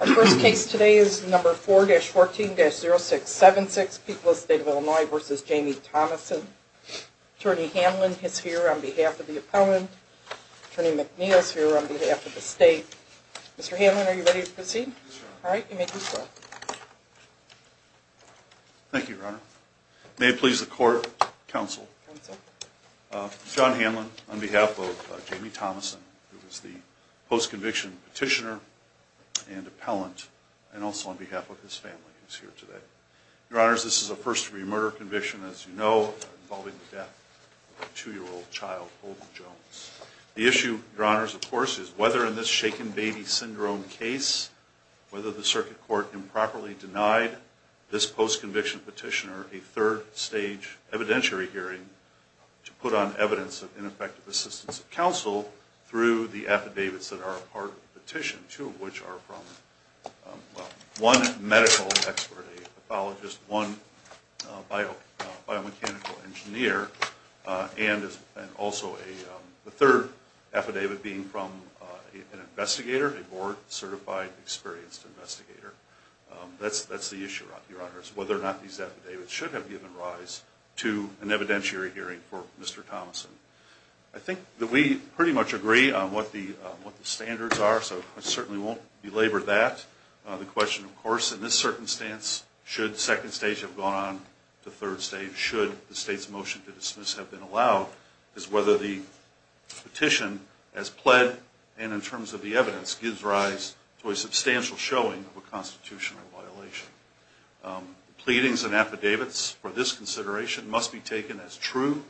Our first case today is number 4-14-0676, People of the State of Illinois v. Jamie Thomasson. Attorney Hanlon is here on behalf of the appellant. Attorney McNeil is here on behalf of the state. Mr. Hanlon, are you ready to proceed? Yes, Your Honor. Alright, you may proceed. Thank you, Your Honor. May it please the Court, Counsel. Counsel. John Hanlon on behalf of Jamie Thomasson, who is the post-conviction petitioner and appellant, and also on behalf of his family who is here today. Your Honors, this is a first-degree murder conviction, as you know, involving the death of a two-year-old child, Holden Jones. The issue, Your Honors, of course, is whether in this shaken baby syndrome case, whether the circuit court improperly denied this post-conviction petitioner a third-stage evidentiary hearing to put on evidence of ineffective assistance of counsel through the affidavits that are a part of the petition, two of which are from one medical expert, a pathologist, one biomechanical engineer, and also the third affidavit being from an investigator, a board-certified, experienced investigator. That's the issue, Your Honors, whether or not these affidavits should have given rise to an evidentiary hearing for Mr. Thomasson. I think that we pretty much agree on what the standards are, so I certainly won't belabor that. The question, of course, in this circumstance, should second stage have gone on to third stage? And should the state's motion to dismiss have been allowed, is whether the petition, as pled, and in terms of the evidence, gives rise to a substantial showing of a constitutional violation. Pleadings and affidavits for this consideration must be taken as true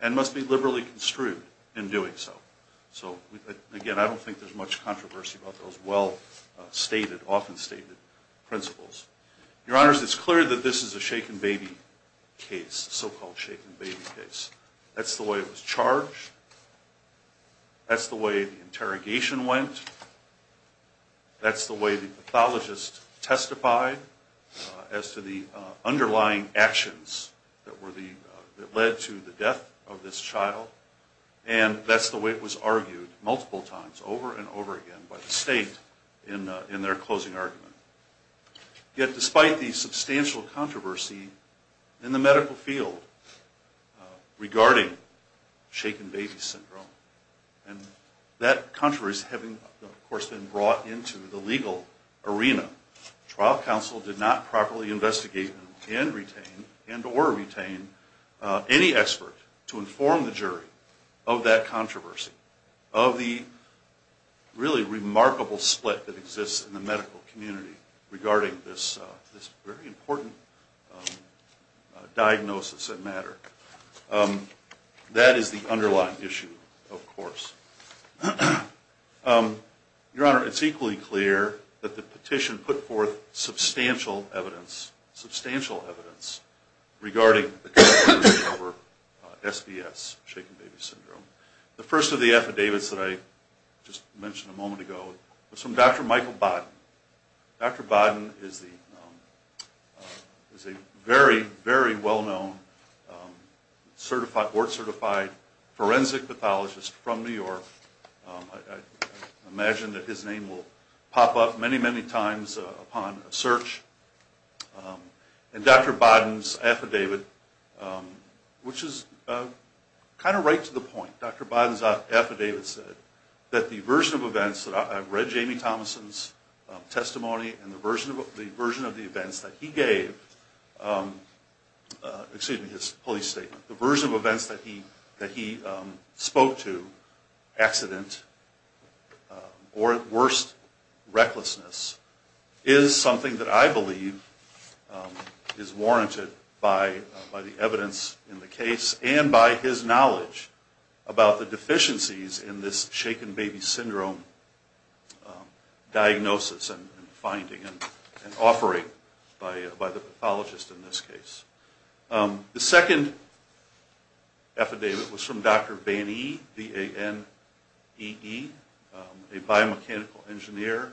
and must be liberally construed in doing so. So, again, I don't think there's much controversy about those well-stated, often-stated principles. Your Honors, it's clear that this is a shaken baby case, so-called shaken baby case. That's the way it was charged. That's the way the interrogation went. That's the way the pathologist testified as to the underlying actions that led to the death of this child. And that's the way it was argued multiple times, over and over again, by the state in their closing argument. Yet, despite the substantial controversy in the medical field regarding shaken baby syndrome, and that controversy having, of course, been brought into the legal arena, trial counsel did not properly investigate and retain, and or retain, any expert to inform the jury of that controversy, of the really remarkable split that exists in the medical community regarding this very important diagnosis that mattered. That is the underlying issue, of course. Your Honor, it's equally clear that the petition put forth substantial evidence, substantial evidence, regarding the controversy over SDS, shaken baby syndrome. The first of the affidavits that I just mentioned a moment ago was from Dr. Michael Bodden. Dr. Bodden is a very, very well-known, board-certified forensic pathologist from New York. I imagine that his name will pop up many, many times upon a search. And Dr. Bodden's affidavit, which is kind of right to the point, Dr. Bodden's affidavit said that the version of events that I've read Jamie Thomason's testimony and the version of the events that he gave, excuse me, his police statement, the version of events that he spoke to, accident, or at worst, recklessness, is something that I believe is warranted by the evidence in the case and by his knowledge about the deficiencies in this shaken baby syndrome diagnosis and finding and offering by the pathologist in this case. The second affidavit was from Dr. Bannee, B-A-N-N-E-E, a biomechanical engineer.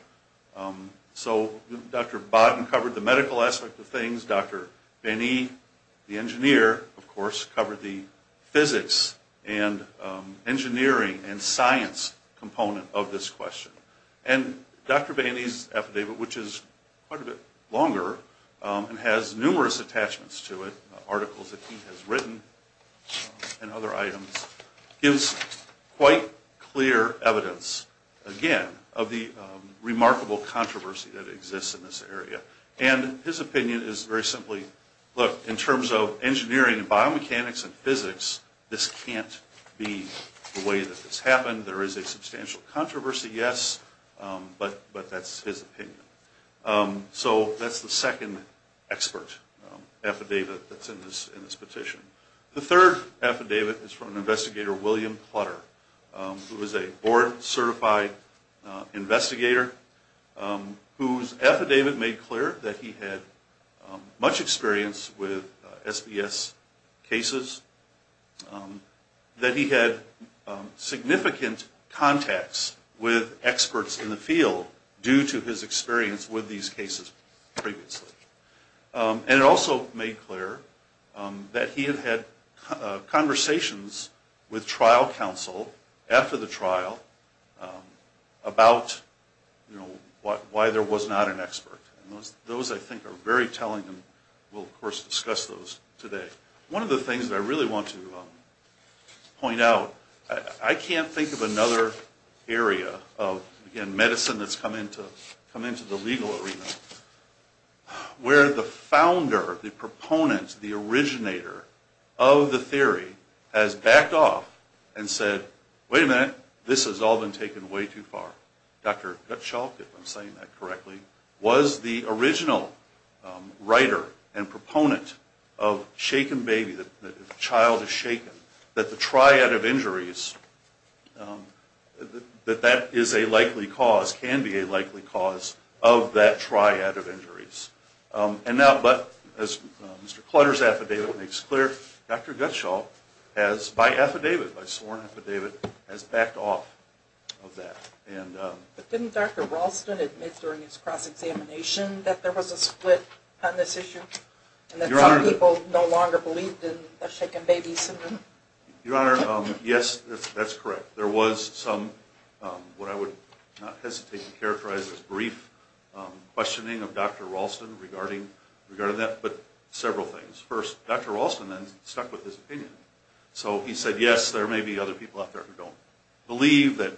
So Dr. Bodden covered the medical aspect of things. Dr. Bannee, the engineer, of course, covered the physics and engineering and science component of this question. And Dr. Bannee's affidavit, which is quite a bit longer and has numerous attachments to it, articles that he has written and other items, gives quite clear evidence, again, of the remarkable controversy that exists in this area. And his opinion is very simply, look, in terms of engineering and biomechanics and physics, this can't be the way that this happened. There is a substantial controversy, yes, but that's his opinion. So that's the second expert affidavit that's in this petition. The third affidavit is from an investigator, William Plutter, who is a board-certified investigator, whose affidavit made clear that he had much experience with SBS cases, that he had significant contacts with experts in the field due to his experience with these cases previously. And it also made clear that he had had conversations with trial counsel after the trial about why there was not an expert. And those, I think, are very telling, and we'll, of course, discuss those today. One of the things that I really want to point out, I can't think of another area of, again, medicine that's come into the legal arena where the founder, the proponent, the originator of the theory has backed off and said, wait a minute, this has all been taken way too far. Dr. Guttschalk, if I'm saying that correctly, was the original writer and proponent of shaken baby, the child is shaken, that the triad of injuries, that that is a likely cause, can be a likely cause of that triad of injuries. And now, as Mr. Plutter's affidavit makes clear, Dr. Guttschalk has, by affidavit, by sworn affidavit, has backed off of that. But didn't Dr. Ralston admit during his cross-examination that there was a split on this issue, and that some people no longer believed in the shaken baby syndrome? Your Honor, yes, that's correct. There was some, what I would not hesitate to characterize as brief, questioning of Dr. Ralston regarding that, but several things. First, Dr. Ralston then stuck with his opinion. So he said, yes, there may be other people out there who don't believe that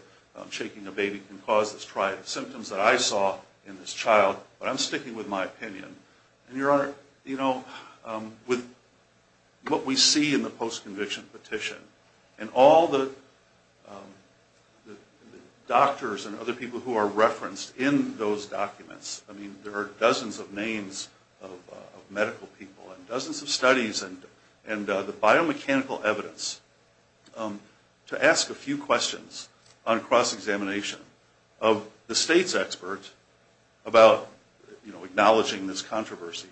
shaking a baby can cause this triad of symptoms that I saw in this child, but I'm sticking with my opinion. And, Your Honor, you know, with what we see in the post-conviction petition, and all the doctors and other people who are referenced in those documents, I mean, there are dozens of names of medical people, and dozens of studies, and the biomechanical evidence. To ask a few questions on cross-examination of the state's experts about, you know, acknowledging this controversy,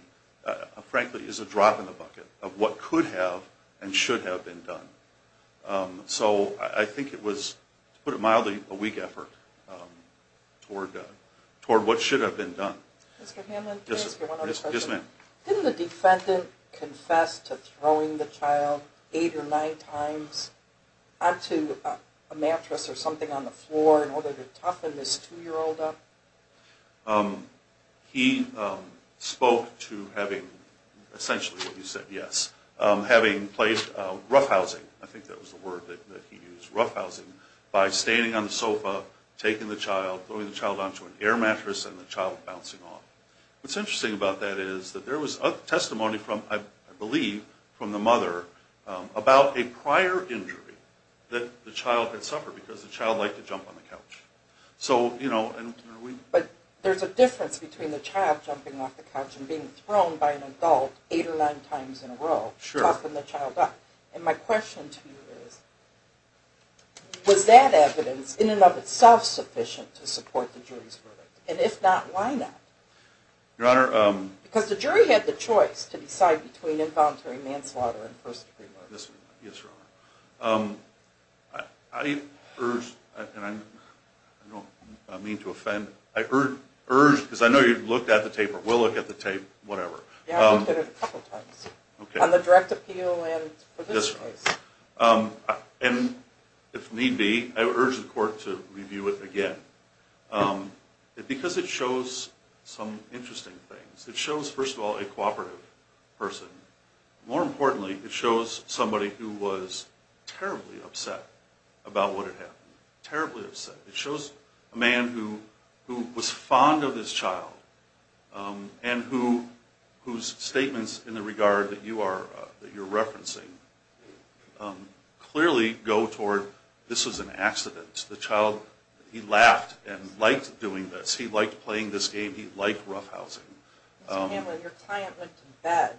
frankly, is a drop in the bucket of what could have and should have been done. So I think it was, to put it mildly, a weak effort toward what should have been done. Mr. Hamlin, can I ask you one other question? Yes, ma'am. Didn't the defendant confess to throwing the child eight or nine times onto a mattress or something on the floor in order to toughen this 2-year-old up? He spoke to having essentially what you said, yes, having placed roughhousing. I think that was the word that he used, roughhousing, by standing on the sofa, taking the child, throwing the child onto an air mattress, and the child bouncing off. What's interesting about that is that there was testimony from, I believe, from the mother about a prior injury that the child had suffered because the child liked to jump on the couch. But there's a difference between the child jumping off the couch and being thrown by an adult eight or nine times in a row, toughening the child up. And my question to you is, was that evidence in and of itself sufficient to support the jury's verdict? And if not, why not? Your Honor. Because the jury had the choice to decide between involuntary manslaughter and first-degree murder. Yes, Your Honor. I urge, and I don't mean to offend, I urge, because I know you've looked at the tape or will look at the tape, whatever. Yeah, I looked at it a couple times on the direct appeal and provision case. And if need be, I urge the Court to review it again. Because it shows some interesting things. It shows, first of all, a cooperative person. More importantly, it shows somebody who was terribly upset about what had happened. Terribly upset. It shows a man who was fond of his child and whose statements in the regard that you're referencing clearly go toward, this was an accident. The child, he laughed and liked doing this. He liked playing this game. He liked roughhousing. Mr. Hanlon, your client went to bed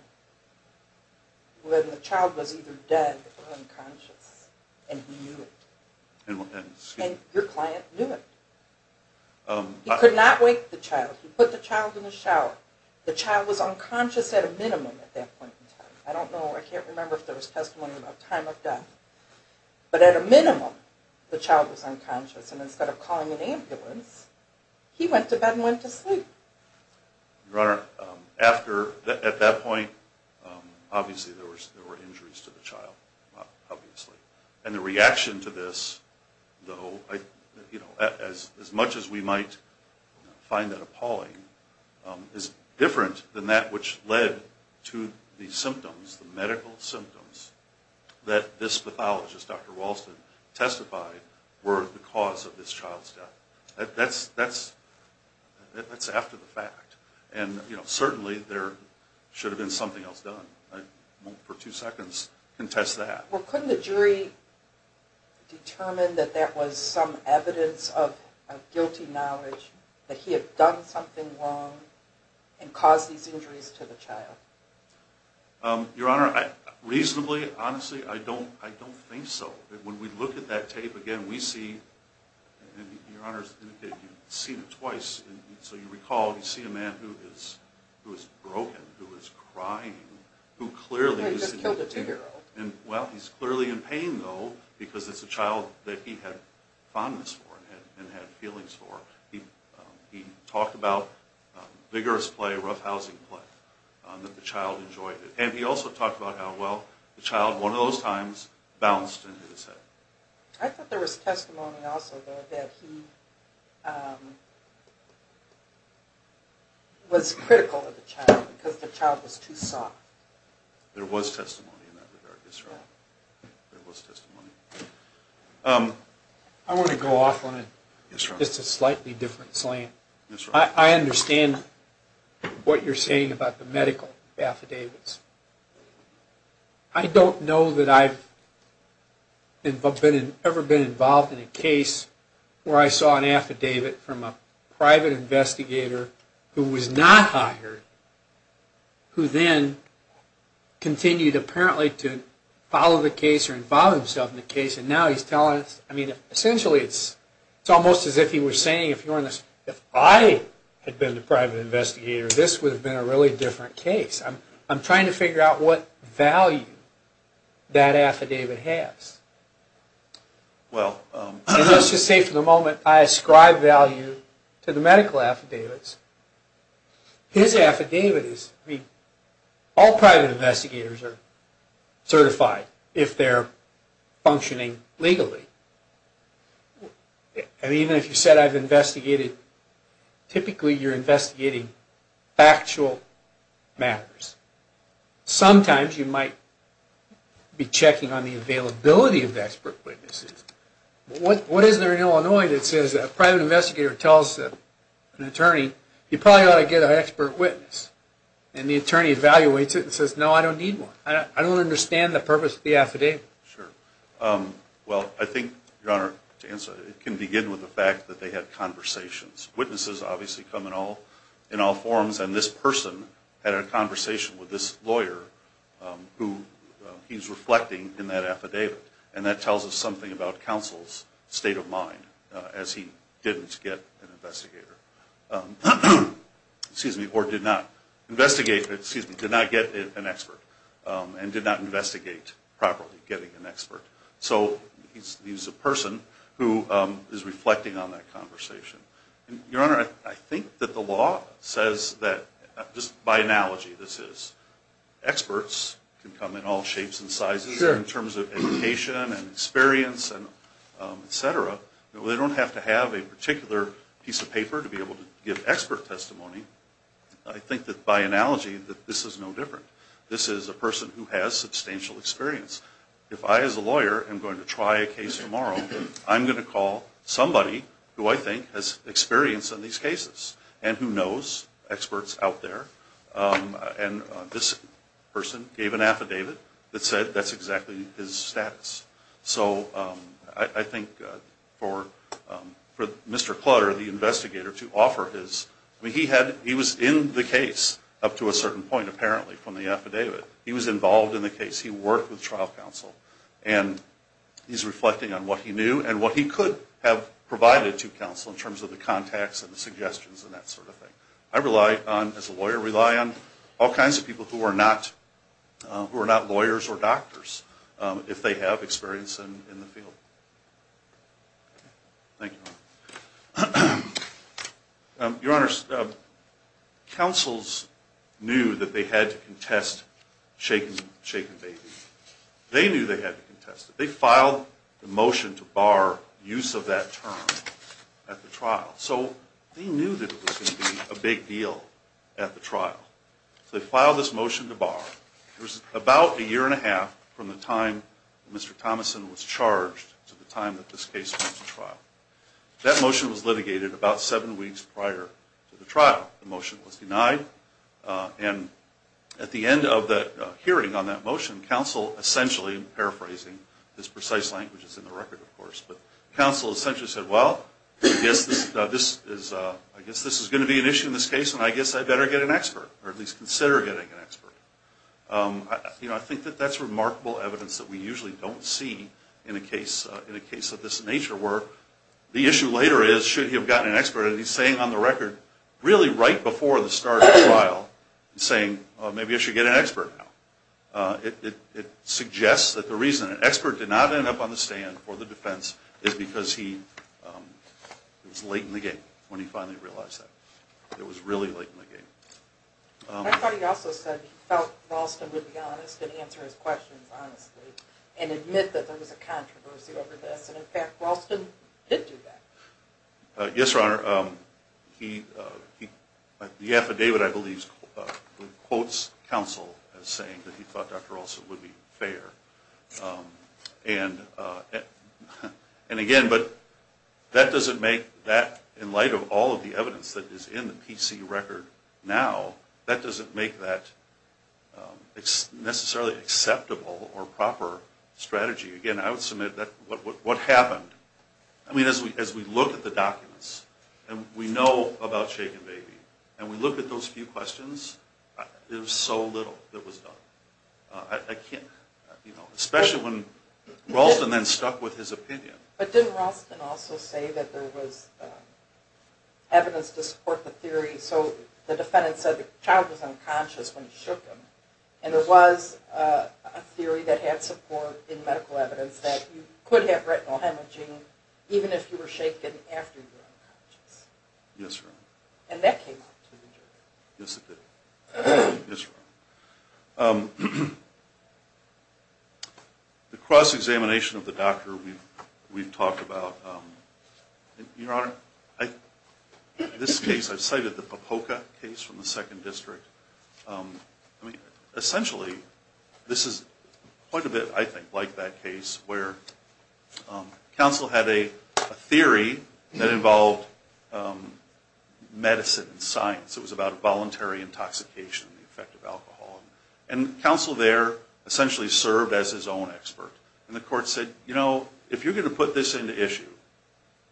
when the child was either dead or unconscious. And he knew it. And your client knew it. He could not wake the child. He put the child in the shower. The child was unconscious at a minimum at that point in time. I don't know, I can't remember if there was testimony about time of death. But at a minimum, the child was unconscious. And instead of calling an ambulance, he went to bed and went to sleep. Your Honor, at that point, obviously there were injuries to the child. Obviously. And the reaction to this, though, as much as we might find that appalling, is different than that which led to the symptoms, the medical symptoms, that this pathologist, Dr. Walston, testified were the cause of this child's death. That's after the fact. And certainly there should have been something else done. I won't for two seconds contest that. Well, couldn't the jury determine that that was some evidence of guilty knowledge, that he had done something wrong and caused these injuries to the child? Your Honor, reasonably, honestly, I don't think so. When we look at that tape again, we see, and Your Honor's indicated you've seen it twice, so you recall you see a man who is broken, who is crying, who clearly is in pain. He just killed a two-year-old. And, well, he's clearly in pain, though, because it's a child that he had fondness for and had feelings for. He talked about vigorous play, roughhousing play, that the child enjoyed it. And he also talked about how, well, the child, one of those times, bounced and hit his head. I thought there was testimony also, though, that he was critical of the child because the child was too soft. There was testimony in that regard, yes, Your Honor. There was testimony. I want to go off on just a slightly different slant. I understand what you're saying about the medical affidavits. I don't know that I've ever been involved in a case where I saw an affidavit from a private investigator who was not hired who then continued, apparently, to follow the case or involve himself in the case. And now he's telling us, I mean, essentially it's almost as if he was saying, if I had been the private investigator, this would have been a really different case. I'm trying to figure out what value that affidavit has. Let's just say for the moment I ascribe value to the medical affidavits. His affidavit is, I mean, all private investigators are certified if they're functioning legally. And even if you said I've investigated, typically you're investigating factual matters. Sometimes you might be checking on the availability of expert witnesses. What is there in Illinois that says a private investigator tells an attorney, you probably ought to get an expert witness? And the attorney evaluates it and says, no, I don't need one. I don't understand the purpose of the affidavit. Sure. Well, I think, Your Honor, to answer, it can begin with the fact that they had conversations. Witnesses obviously come in all forms. And this person had a conversation with this lawyer who he's reflecting in that affidavit. And that tells us something about counsel's state of mind as he didn't get an investigator. Excuse me, or did not investigate, excuse me, did not get an expert and did not investigate properly getting an expert. So he's a person who is reflecting on that conversation. Your Honor, I think that the law says that, just by analogy, this is, experts can come in all shapes and sizes in terms of education and experience, et cetera. They don't have to have a particular piece of paper to be able to give expert testimony. I think that by analogy that this is no different. This is a person who has substantial experience. If I, as a lawyer, am going to try a case tomorrow, I'm going to call somebody who I think has experience in these cases and who knows experts out there. And this person gave an affidavit that said that's exactly his status. So I think for Mr. Clutter, the investigator, to offer his, he was in the case up to a certain point, apparently, from the affidavit. He was involved in the case. He worked with trial counsel. And he's reflecting on what he knew and what he could have provided to counsel in terms of the contacts and the suggestions and that sort of thing. I rely on, as a lawyer, rely on all kinds of people who are not lawyers or doctors Thank you, Your Honor. Your Honor, counsels knew that they had to contest shaken baby. They knew they had to contest it. They filed a motion to bar use of that term at the trial. So they knew that it was going to be a big deal at the trial. So they filed this motion to bar. It was about a year and a half from the time Mr. Thomason was charged to the time that this case went to trial. That motion was litigated about seven weeks prior to the trial. The motion was denied. And at the end of the hearing on that motion, counsel essentially, I'm paraphrasing this precise language that's in the record, of course, but counsel essentially said, well, I guess this is going to be an issue in this case, and I guess I better get an expert, or at least consider getting an expert. I think that that's remarkable evidence that we usually don't see in a case of this nature where the issue later is should he have gotten an expert. And he's saying on the record really right before the start of the trial, saying maybe I should get an expert now. It suggests that the reason an expert did not end up on the stand for the defense is because it was late in the game when he finally realized that. It was really late in the game. I thought he also said he felt Ralston would be honest and answer his questions honestly and admit that there was a controversy over this. And, in fact, Ralston did do that. Yes, Your Honor. The affidavit, I believe, quotes counsel as saying that he thought Dr. Ralston would be fair. And, again, that doesn't make that, in light of all of the evidence that is in the PC record now, that doesn't make that necessarily acceptable or proper strategy. Again, I would submit what happened. I mean, as we look at the documents and we know about Shake and Baby and we look at those few questions, there's so little that was done. I can't, you know, especially when Ralston then stuck with his opinion. But didn't Ralston also say that there was evidence to support the theory? So the defendant said the child was unconscious when he shook him. And there was a theory that had support in medical evidence that you could have retinal hemorrhaging even if you were shaken after you were unconscious. Yes, Your Honor. And that came up to the jury. Yes, it did. Yes, Your Honor. The cross-examination of the doctor we've talked about. Your Honor, this case, I've cited the Popoka case from the Second District. Essentially, this is quite a bit, I think, like that case where counsel had a theory that involved medicine and science. It was about voluntary intoxication and the effect of alcohol. And counsel there essentially served as his own expert. And the court said, you know, if you're going to put this into issue,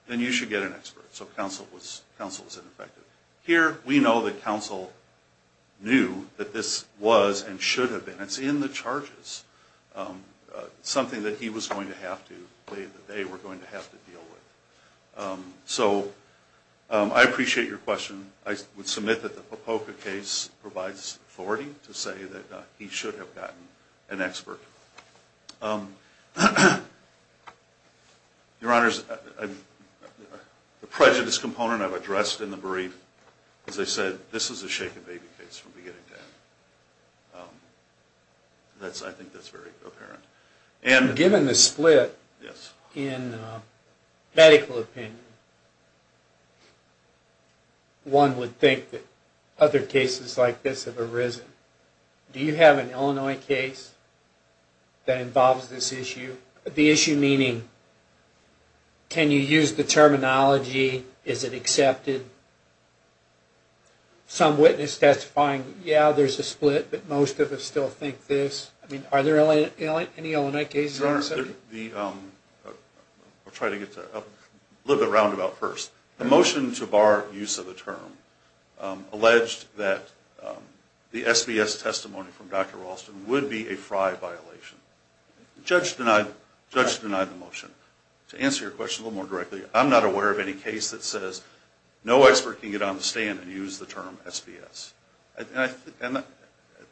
then you should get an expert. So counsel was ineffective. Here, we know that counsel knew that this was and should have been, it's in the charges, something that he was going to have to, that they were going to have to deal with. So I appreciate your question. I would submit that the Popoka case provides authority to say that he should have gotten an expert. Your Honor, the prejudice component I've addressed in the brief, as I said, this is a shaken baby case from beginning to end. I think that's very apparent. Given the split in medical opinion, one would think that other cases like this have arisen. Do you have an Illinois case that involves this issue? The issue meaning, can you use the terminology? Is it accepted? Some witness testifying, yeah, there's a split, but most of us still think this. I mean, are there any Illinois cases like this? Your Honor, I'll try to get to it. A little bit of a roundabout first. The motion to bar use of the term alleged that the SBS testimony from Dr. Ralston would be a Frye violation. The judge denied the motion. To answer your question a little more directly, I'm not aware of any case that says no expert can get on the stand and use the term SBS. And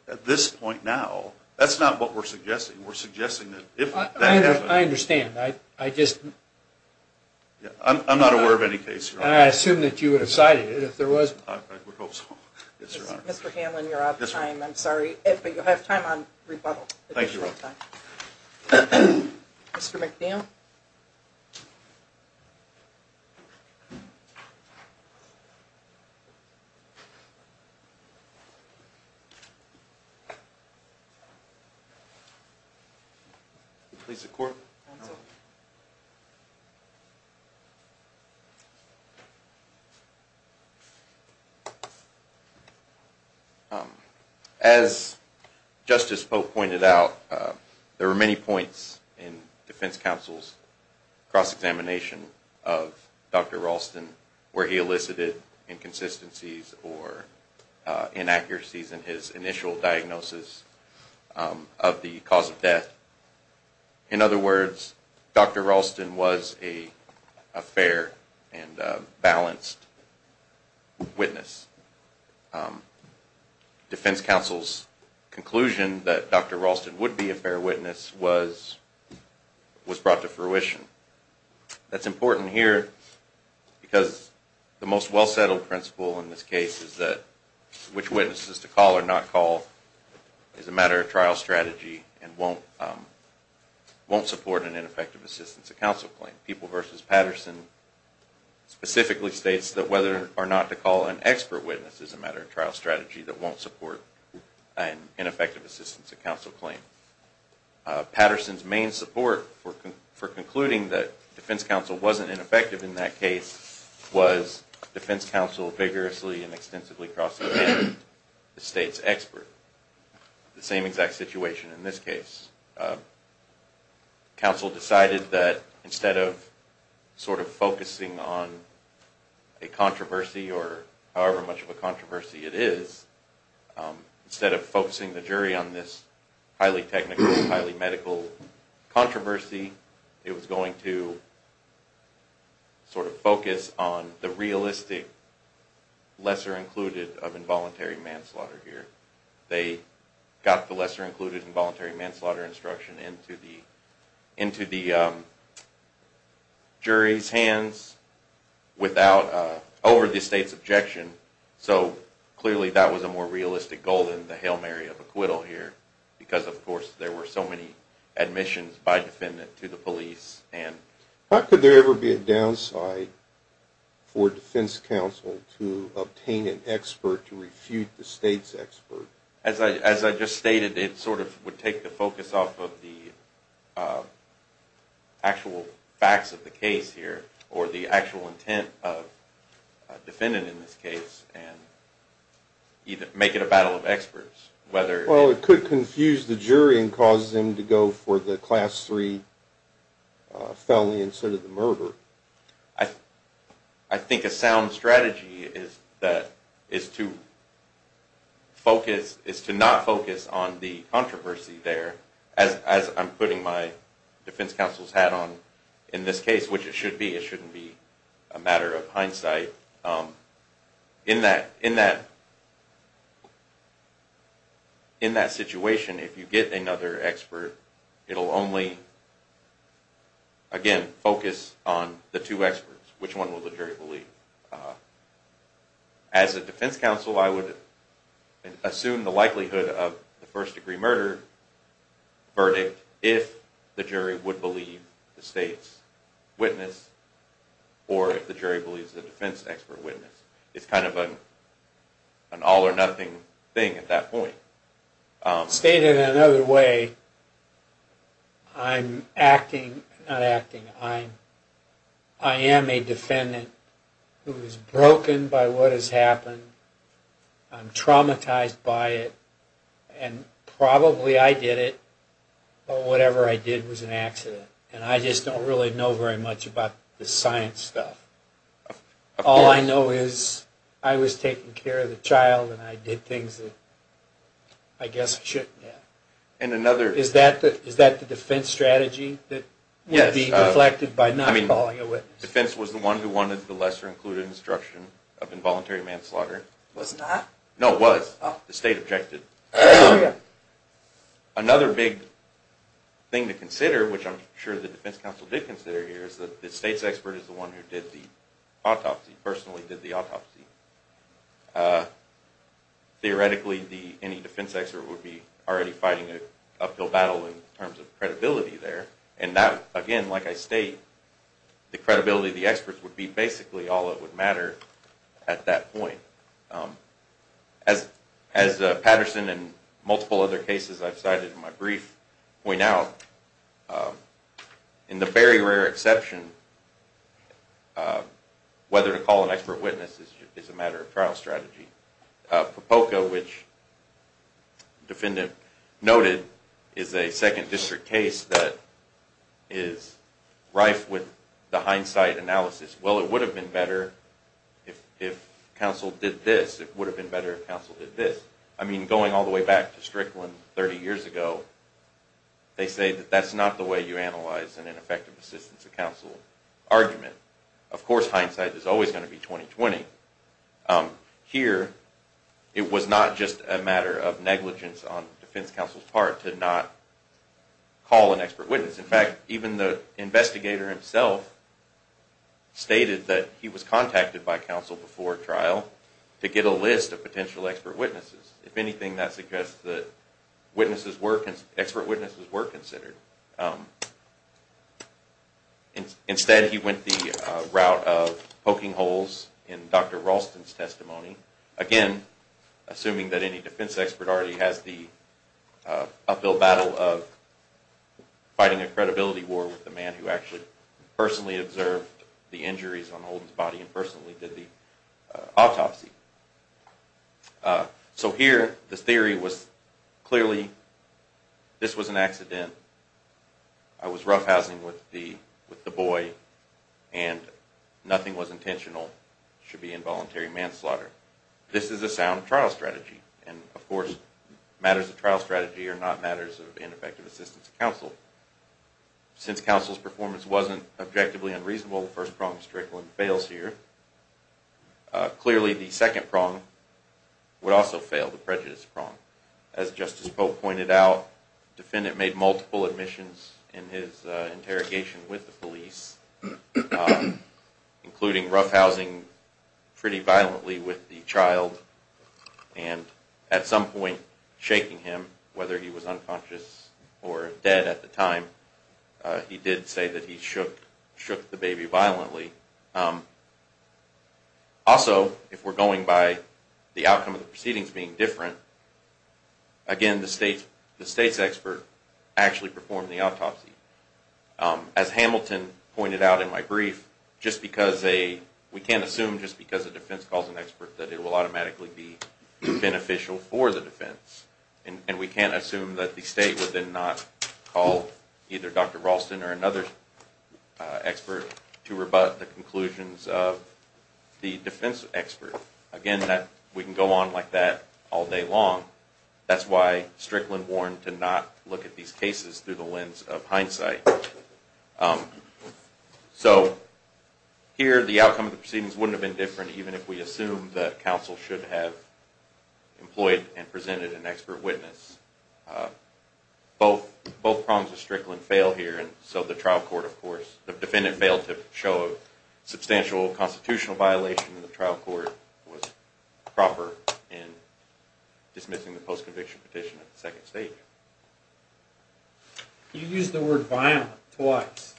at this point now, that's not what we're suggesting. We're suggesting that if that happens. I understand. I'm not aware of any case, Your Honor. I assume that you would have cited it if there was one. I would hope so, yes, Your Honor. Mr. Hanlon, you're out of time. I'm sorry. But you'll have time on rebuttal. Thank you, Your Honor. Mr. McNeil? Thank you, Your Honor. Please, the court. Counsel? As Justice Pope pointed out, there were many points in defense counsel's cross-examination of Dr. Ralston, where he elicited inconsistencies or inaccuracies in his initial diagnosis of the cause of death. In other words, Dr. Ralston was a fair and balanced witness. Defense counsel's conclusion that Dr. Ralston would be a fair witness was brought to fruition. That's important here because the most well-settled principle in this case is that which witnesses to call or not call is a matter of trial strategy and won't support an ineffective assistance of counsel claim. People v. Patterson specifically states that whether or not to call an expert witness is a matter of trial strategy that won't support an ineffective assistance of counsel claim. Patterson's main support for concluding that defense counsel wasn't ineffective in that case was defense counsel vigorously and extensively cross-examined the state's expert. The same exact situation in this case. Counsel decided that instead of sort of focusing on a controversy or however much of a controversy it is, instead of focusing the jury on this highly technical, highly medical controversy, it was going to sort of focus on the realistic lesser included of involuntary manslaughter here. They got the lesser included involuntary manslaughter instruction into the jury's hands over the state's objection. So clearly that was a more realistic goal than the Hail Mary of acquittal here because of course there were so many admissions by defendant to the police. How could there ever be a downside for defense counsel to obtain an expert to refute the state's expert? As I just stated, it sort of would take the focus off of the actual facts of the case here or the actual intent of defendant in this case and make it a battle of experts. Well, it could confuse the jury and cause them to go for the Class III felony instead of the murder. I think a sound strategy is to not focus on the controversy there as I'm putting my defense counsel's hat on in this case, which it should be. It shouldn't be a matter of hindsight. In that situation, if you get another expert, it will only, again, focus on the two experts. Which one will the jury believe? As a defense counsel, I would assume the likelihood of the first degree murder verdict if the jury would believe the state's witness or if the jury believes the defense expert's witness. It's kind of an all or nothing thing at that point. Stated another way, I'm acting, not acting, I am a defendant who is broken by what has happened. I'm traumatized by it and probably I did it, but whatever I did was an accident. And I just don't really know very much about the science stuff. All I know is I was taking care of the child and I did things that I guess I shouldn't have. Is that the defense strategy that would be reflected by not calling a witness? The defense was the one who wanted the lesser included instruction of involuntary manslaughter. No, it was. The state objected. Another big thing to consider, which I'm sure the defense counsel did consider here, is that the state's expert is the one who did the autopsy, personally did the autopsy. Theoretically, any defense expert would be already fighting an uphill battle in terms of credibility there. And that, again, like I state, the credibility of the experts would be basically all that would matter at that point. As Patterson and multiple other cases I've cited in my brief point out, in the very rare exception, whether to call an expert witness is a matter of course. It's a trial strategy. Propoka, which the defendant noted, is a second district case that is rife with the hindsight analysis. Well, it would have been better if counsel did this. I mean, going all the way back to Strickland 30 years ago, they say that that's not the way you analyze an ineffective assistance to counsel argument. Of course, hindsight is always going to be 20-20. Here, it was not just a matter of negligence on defense counsel's part to not call an expert witness. In fact, even the investigator himself stated that he was contacted by counsel before trial to get a list of potential expert witnesses. If anything, that suggests that expert witnesses were considered. Instead, he went the route of poking holes in Dr. Ralston's testimony. Again, assuming that any defense expert already has the uphill battle of fighting a credibility war with the man who actually personally observed the injuries on Holden's body and personally did the autopsy. So here, the theory was clearly, this was an accident, I was roughhousing with the boy, and nothing was intentional. It should be involuntary manslaughter. This is a sound trial strategy. And of course, matters of trial strategy are not matters of ineffective assistance to counsel. Since counsel's performance wasn't objectively unreasonable, the first prong of Strickland fails here. Clearly, the second prong would also fail, the prejudice prong. As Justice Polk pointed out, the defendant made multiple admissions in his interrogation with the police, including roughhousing pretty violently with the child and at some point shaking him, whether he was unconscious or dead at the time. He did say that he shook the baby violently. Also, if we're going by the outcome of the proceedings being different, again, the state's expert actually performed the autopsy. As Hamilton pointed out in my brief, we can't assume just because a defense calls an expert that it will automatically be beneficial for the defense. And we can't assume that the state would then not call either Dr. Ralston or another expert to rebut the conclusions of the defense expert. Again, we can go on like that all day long. That's why Strickland warned to not look at these cases through the lens of hindsight. So here, the outcome of the proceedings wouldn't have been different even if we assumed that counsel should have employed and presented an expert witness. Both prongs of Strickland fail here, and so the trial court, of course, the defendant failed to show a substantial constitutional violation in the trial court that was proper in dismissing the post-conviction petition at the second stage. You used the word violent twice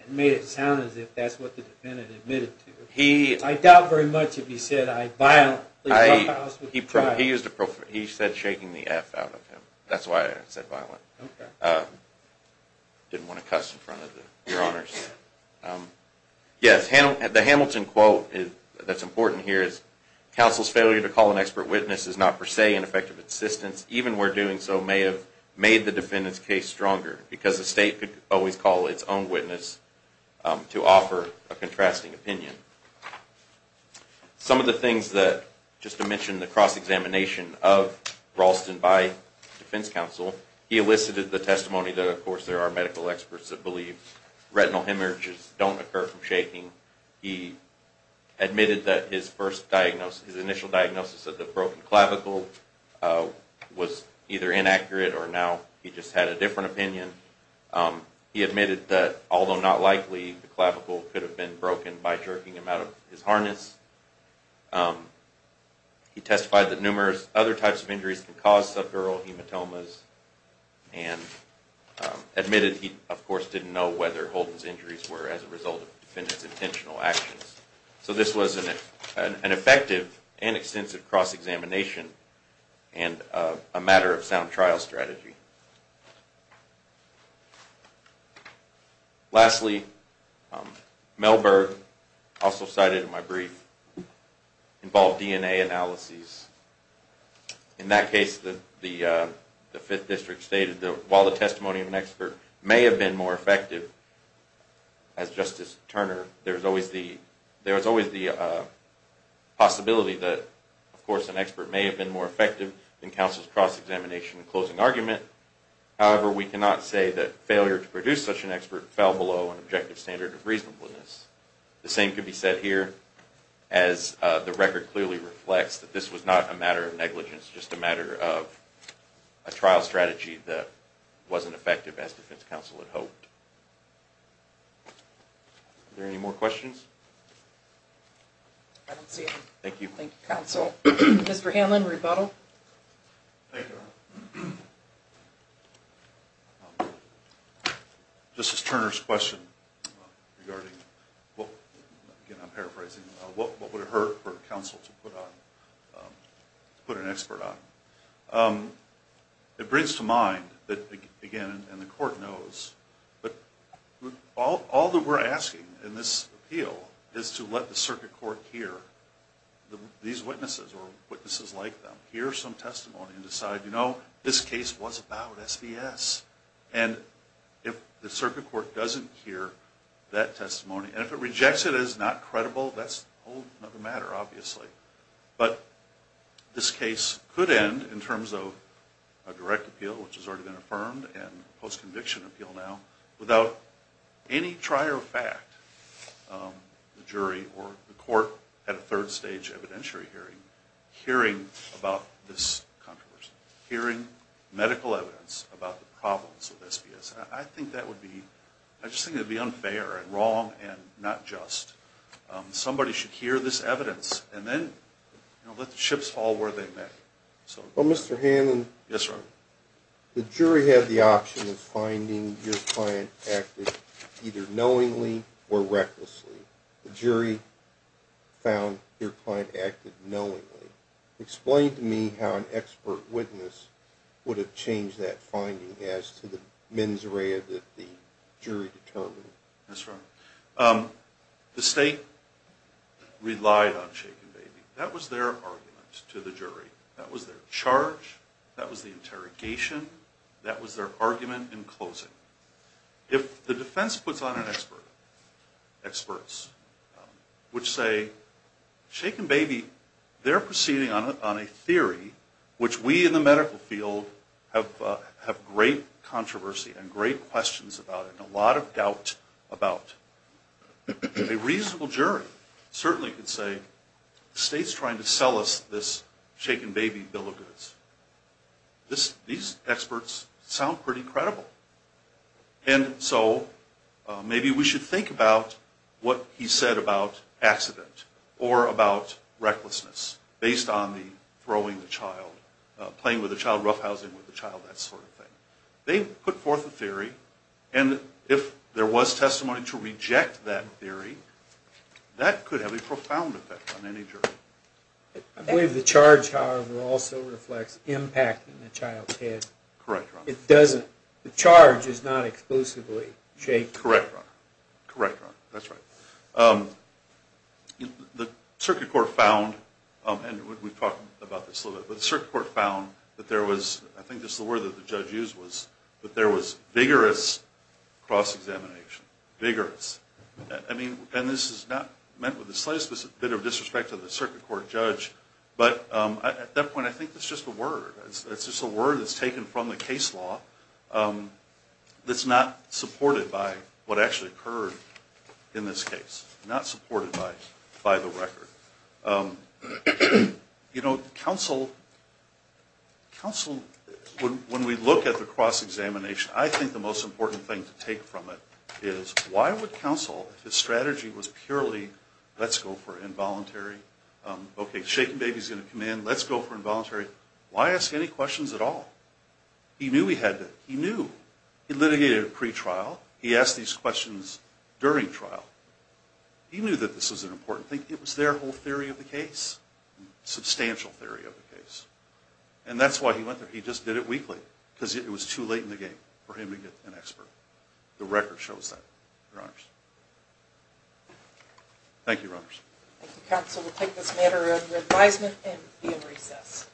and made it sound as if that's what the defendant admitted to. I doubt very much if he said I violently profiled him. He said shaking the F out of him. That's why I said violent. I didn't want to cuss in front of your honors. Yes, the Hamilton quote that's important here is, counsel's failure to call an expert witness is not per se an effect of insistence, even where doing so may have made the defendant's case stronger. Because the state could always call its own witness to offer a contrasting opinion. Some of the things that, just to mention the cross-examination of Ralston by defense counsel, he elicited the testimony that, of course, there are medical experts that believe retinal hemorrhages don't occur from shaking. He admitted that his initial diagnosis of the broken clavicle was either inaccurate or now he just had a different opinion. He admitted that, although not likely, the clavicle could have been broken by jerking him out of his harness. He testified that numerous other types of injuries can cause subdural hematomas and admitted he, of course, didn't know whether Holden's injuries were as a result of the defendant's cross-examination and a matter of sound trial strategy. Lastly, Melberg, also cited in my brief, involved DNA analyses. In that case, the 5th District stated that while the testimony of an expert may have been more effective, as Justice Turner, there is always the possibility that of course an expert may have been more effective in counsel's cross-examination and closing argument. However, we cannot say that failure to produce such an expert fell below an objective standard of reasonableness. The same could be said here as the record clearly reflects that this was not a matter of negligence, just a matter of a trial strategy that wasn't effective as defense counsel had hoped. Are there any more questions? Thank you. Thank you, counsel. Mr. Hanlon, rebuttal. This is Turner's question regarding, again, I'm paraphrasing, what would it hurt for counsel to put an expert on. It brings to mind that, again, and the court knows, all that we're asking in this appeal is to let the circuit court hear these witnesses or witnesses like them hear some testimony and decide, you know, this case was about SBS. And if the circuit court doesn't hear that testimony, and if it rejects it as not credible, that's a whole other matter, obviously. But this case could end in terms of a direct appeal, which has already been affirmed, and a post-conviction appeal now, without any trier of fact, the jury or the court at a third stage evidentiary hearing, about this controversy, hearing medical evidence about the problems with SBS. I think that would be, I just think it would be unfair and wrong and not just. Somebody should hear this evidence and then let the chips fall where they may. Well, Mr. Hanlon, the jury had the option of finding your client acted either knowingly or recklessly. The jury found your client acted knowingly. Explain to me how an expert witness would have changed that finding as to the mens rea that the jury determined. That's right. The state relied on Shake and Baby. That was their argument to the jury. That was their charge. That was the interrogation. That was their argument in closing. If the defense puts on an expert, experts, which say Shake and Baby, they're proceeding on a theory which we in the medical field have great controversy and great questions about and a lot of doubt about, a reasonable jury certainly could say, the state's trying to sell us this Shake and Baby bill of goods. These experts sound pretty credible. Maybe we should think about what he said about accident or about recklessness based on the throwing the child, playing with the child, roughhousing with the child, that sort of thing. They put forth a theory and if there was testimony to reject that theory, that could have a profound effect on any jury. I believe the charge, however, also reflects impact on the child's head. Correct. The circuit court found, and we've talked about this a little bit, but the circuit court found that there was, I think this is the word that the judge used, that there was vigorous cross-examination. Vigorous. This is not meant with the slightest bit of disrespect to the circuit court judge, but at that point I think it's just a word. It's just a word that's taken from the case law that's not supported by what actually occurred in this case. Not supported by the record. When we look at the cross-examination, I think the most important thing to take from it is, why would counsel, if his strategy was purely, let's go for involuntary, okay, shaken baby's going to come in, let's go for involuntary, why ask any questions at all? He knew he had to. He knew. He litigated at pretrial. He asked these questions during trial. He knew that this was an important thing. It was their whole theory of the case. Substantial theory of the case. And that's why he went there. He just did it weekly. Because it was too late in the game for him to get an expert. The record shows that, Your Honors. Thank you, Your Honors. Thank you, counsel. We'll take this matter under advisement and be in recess.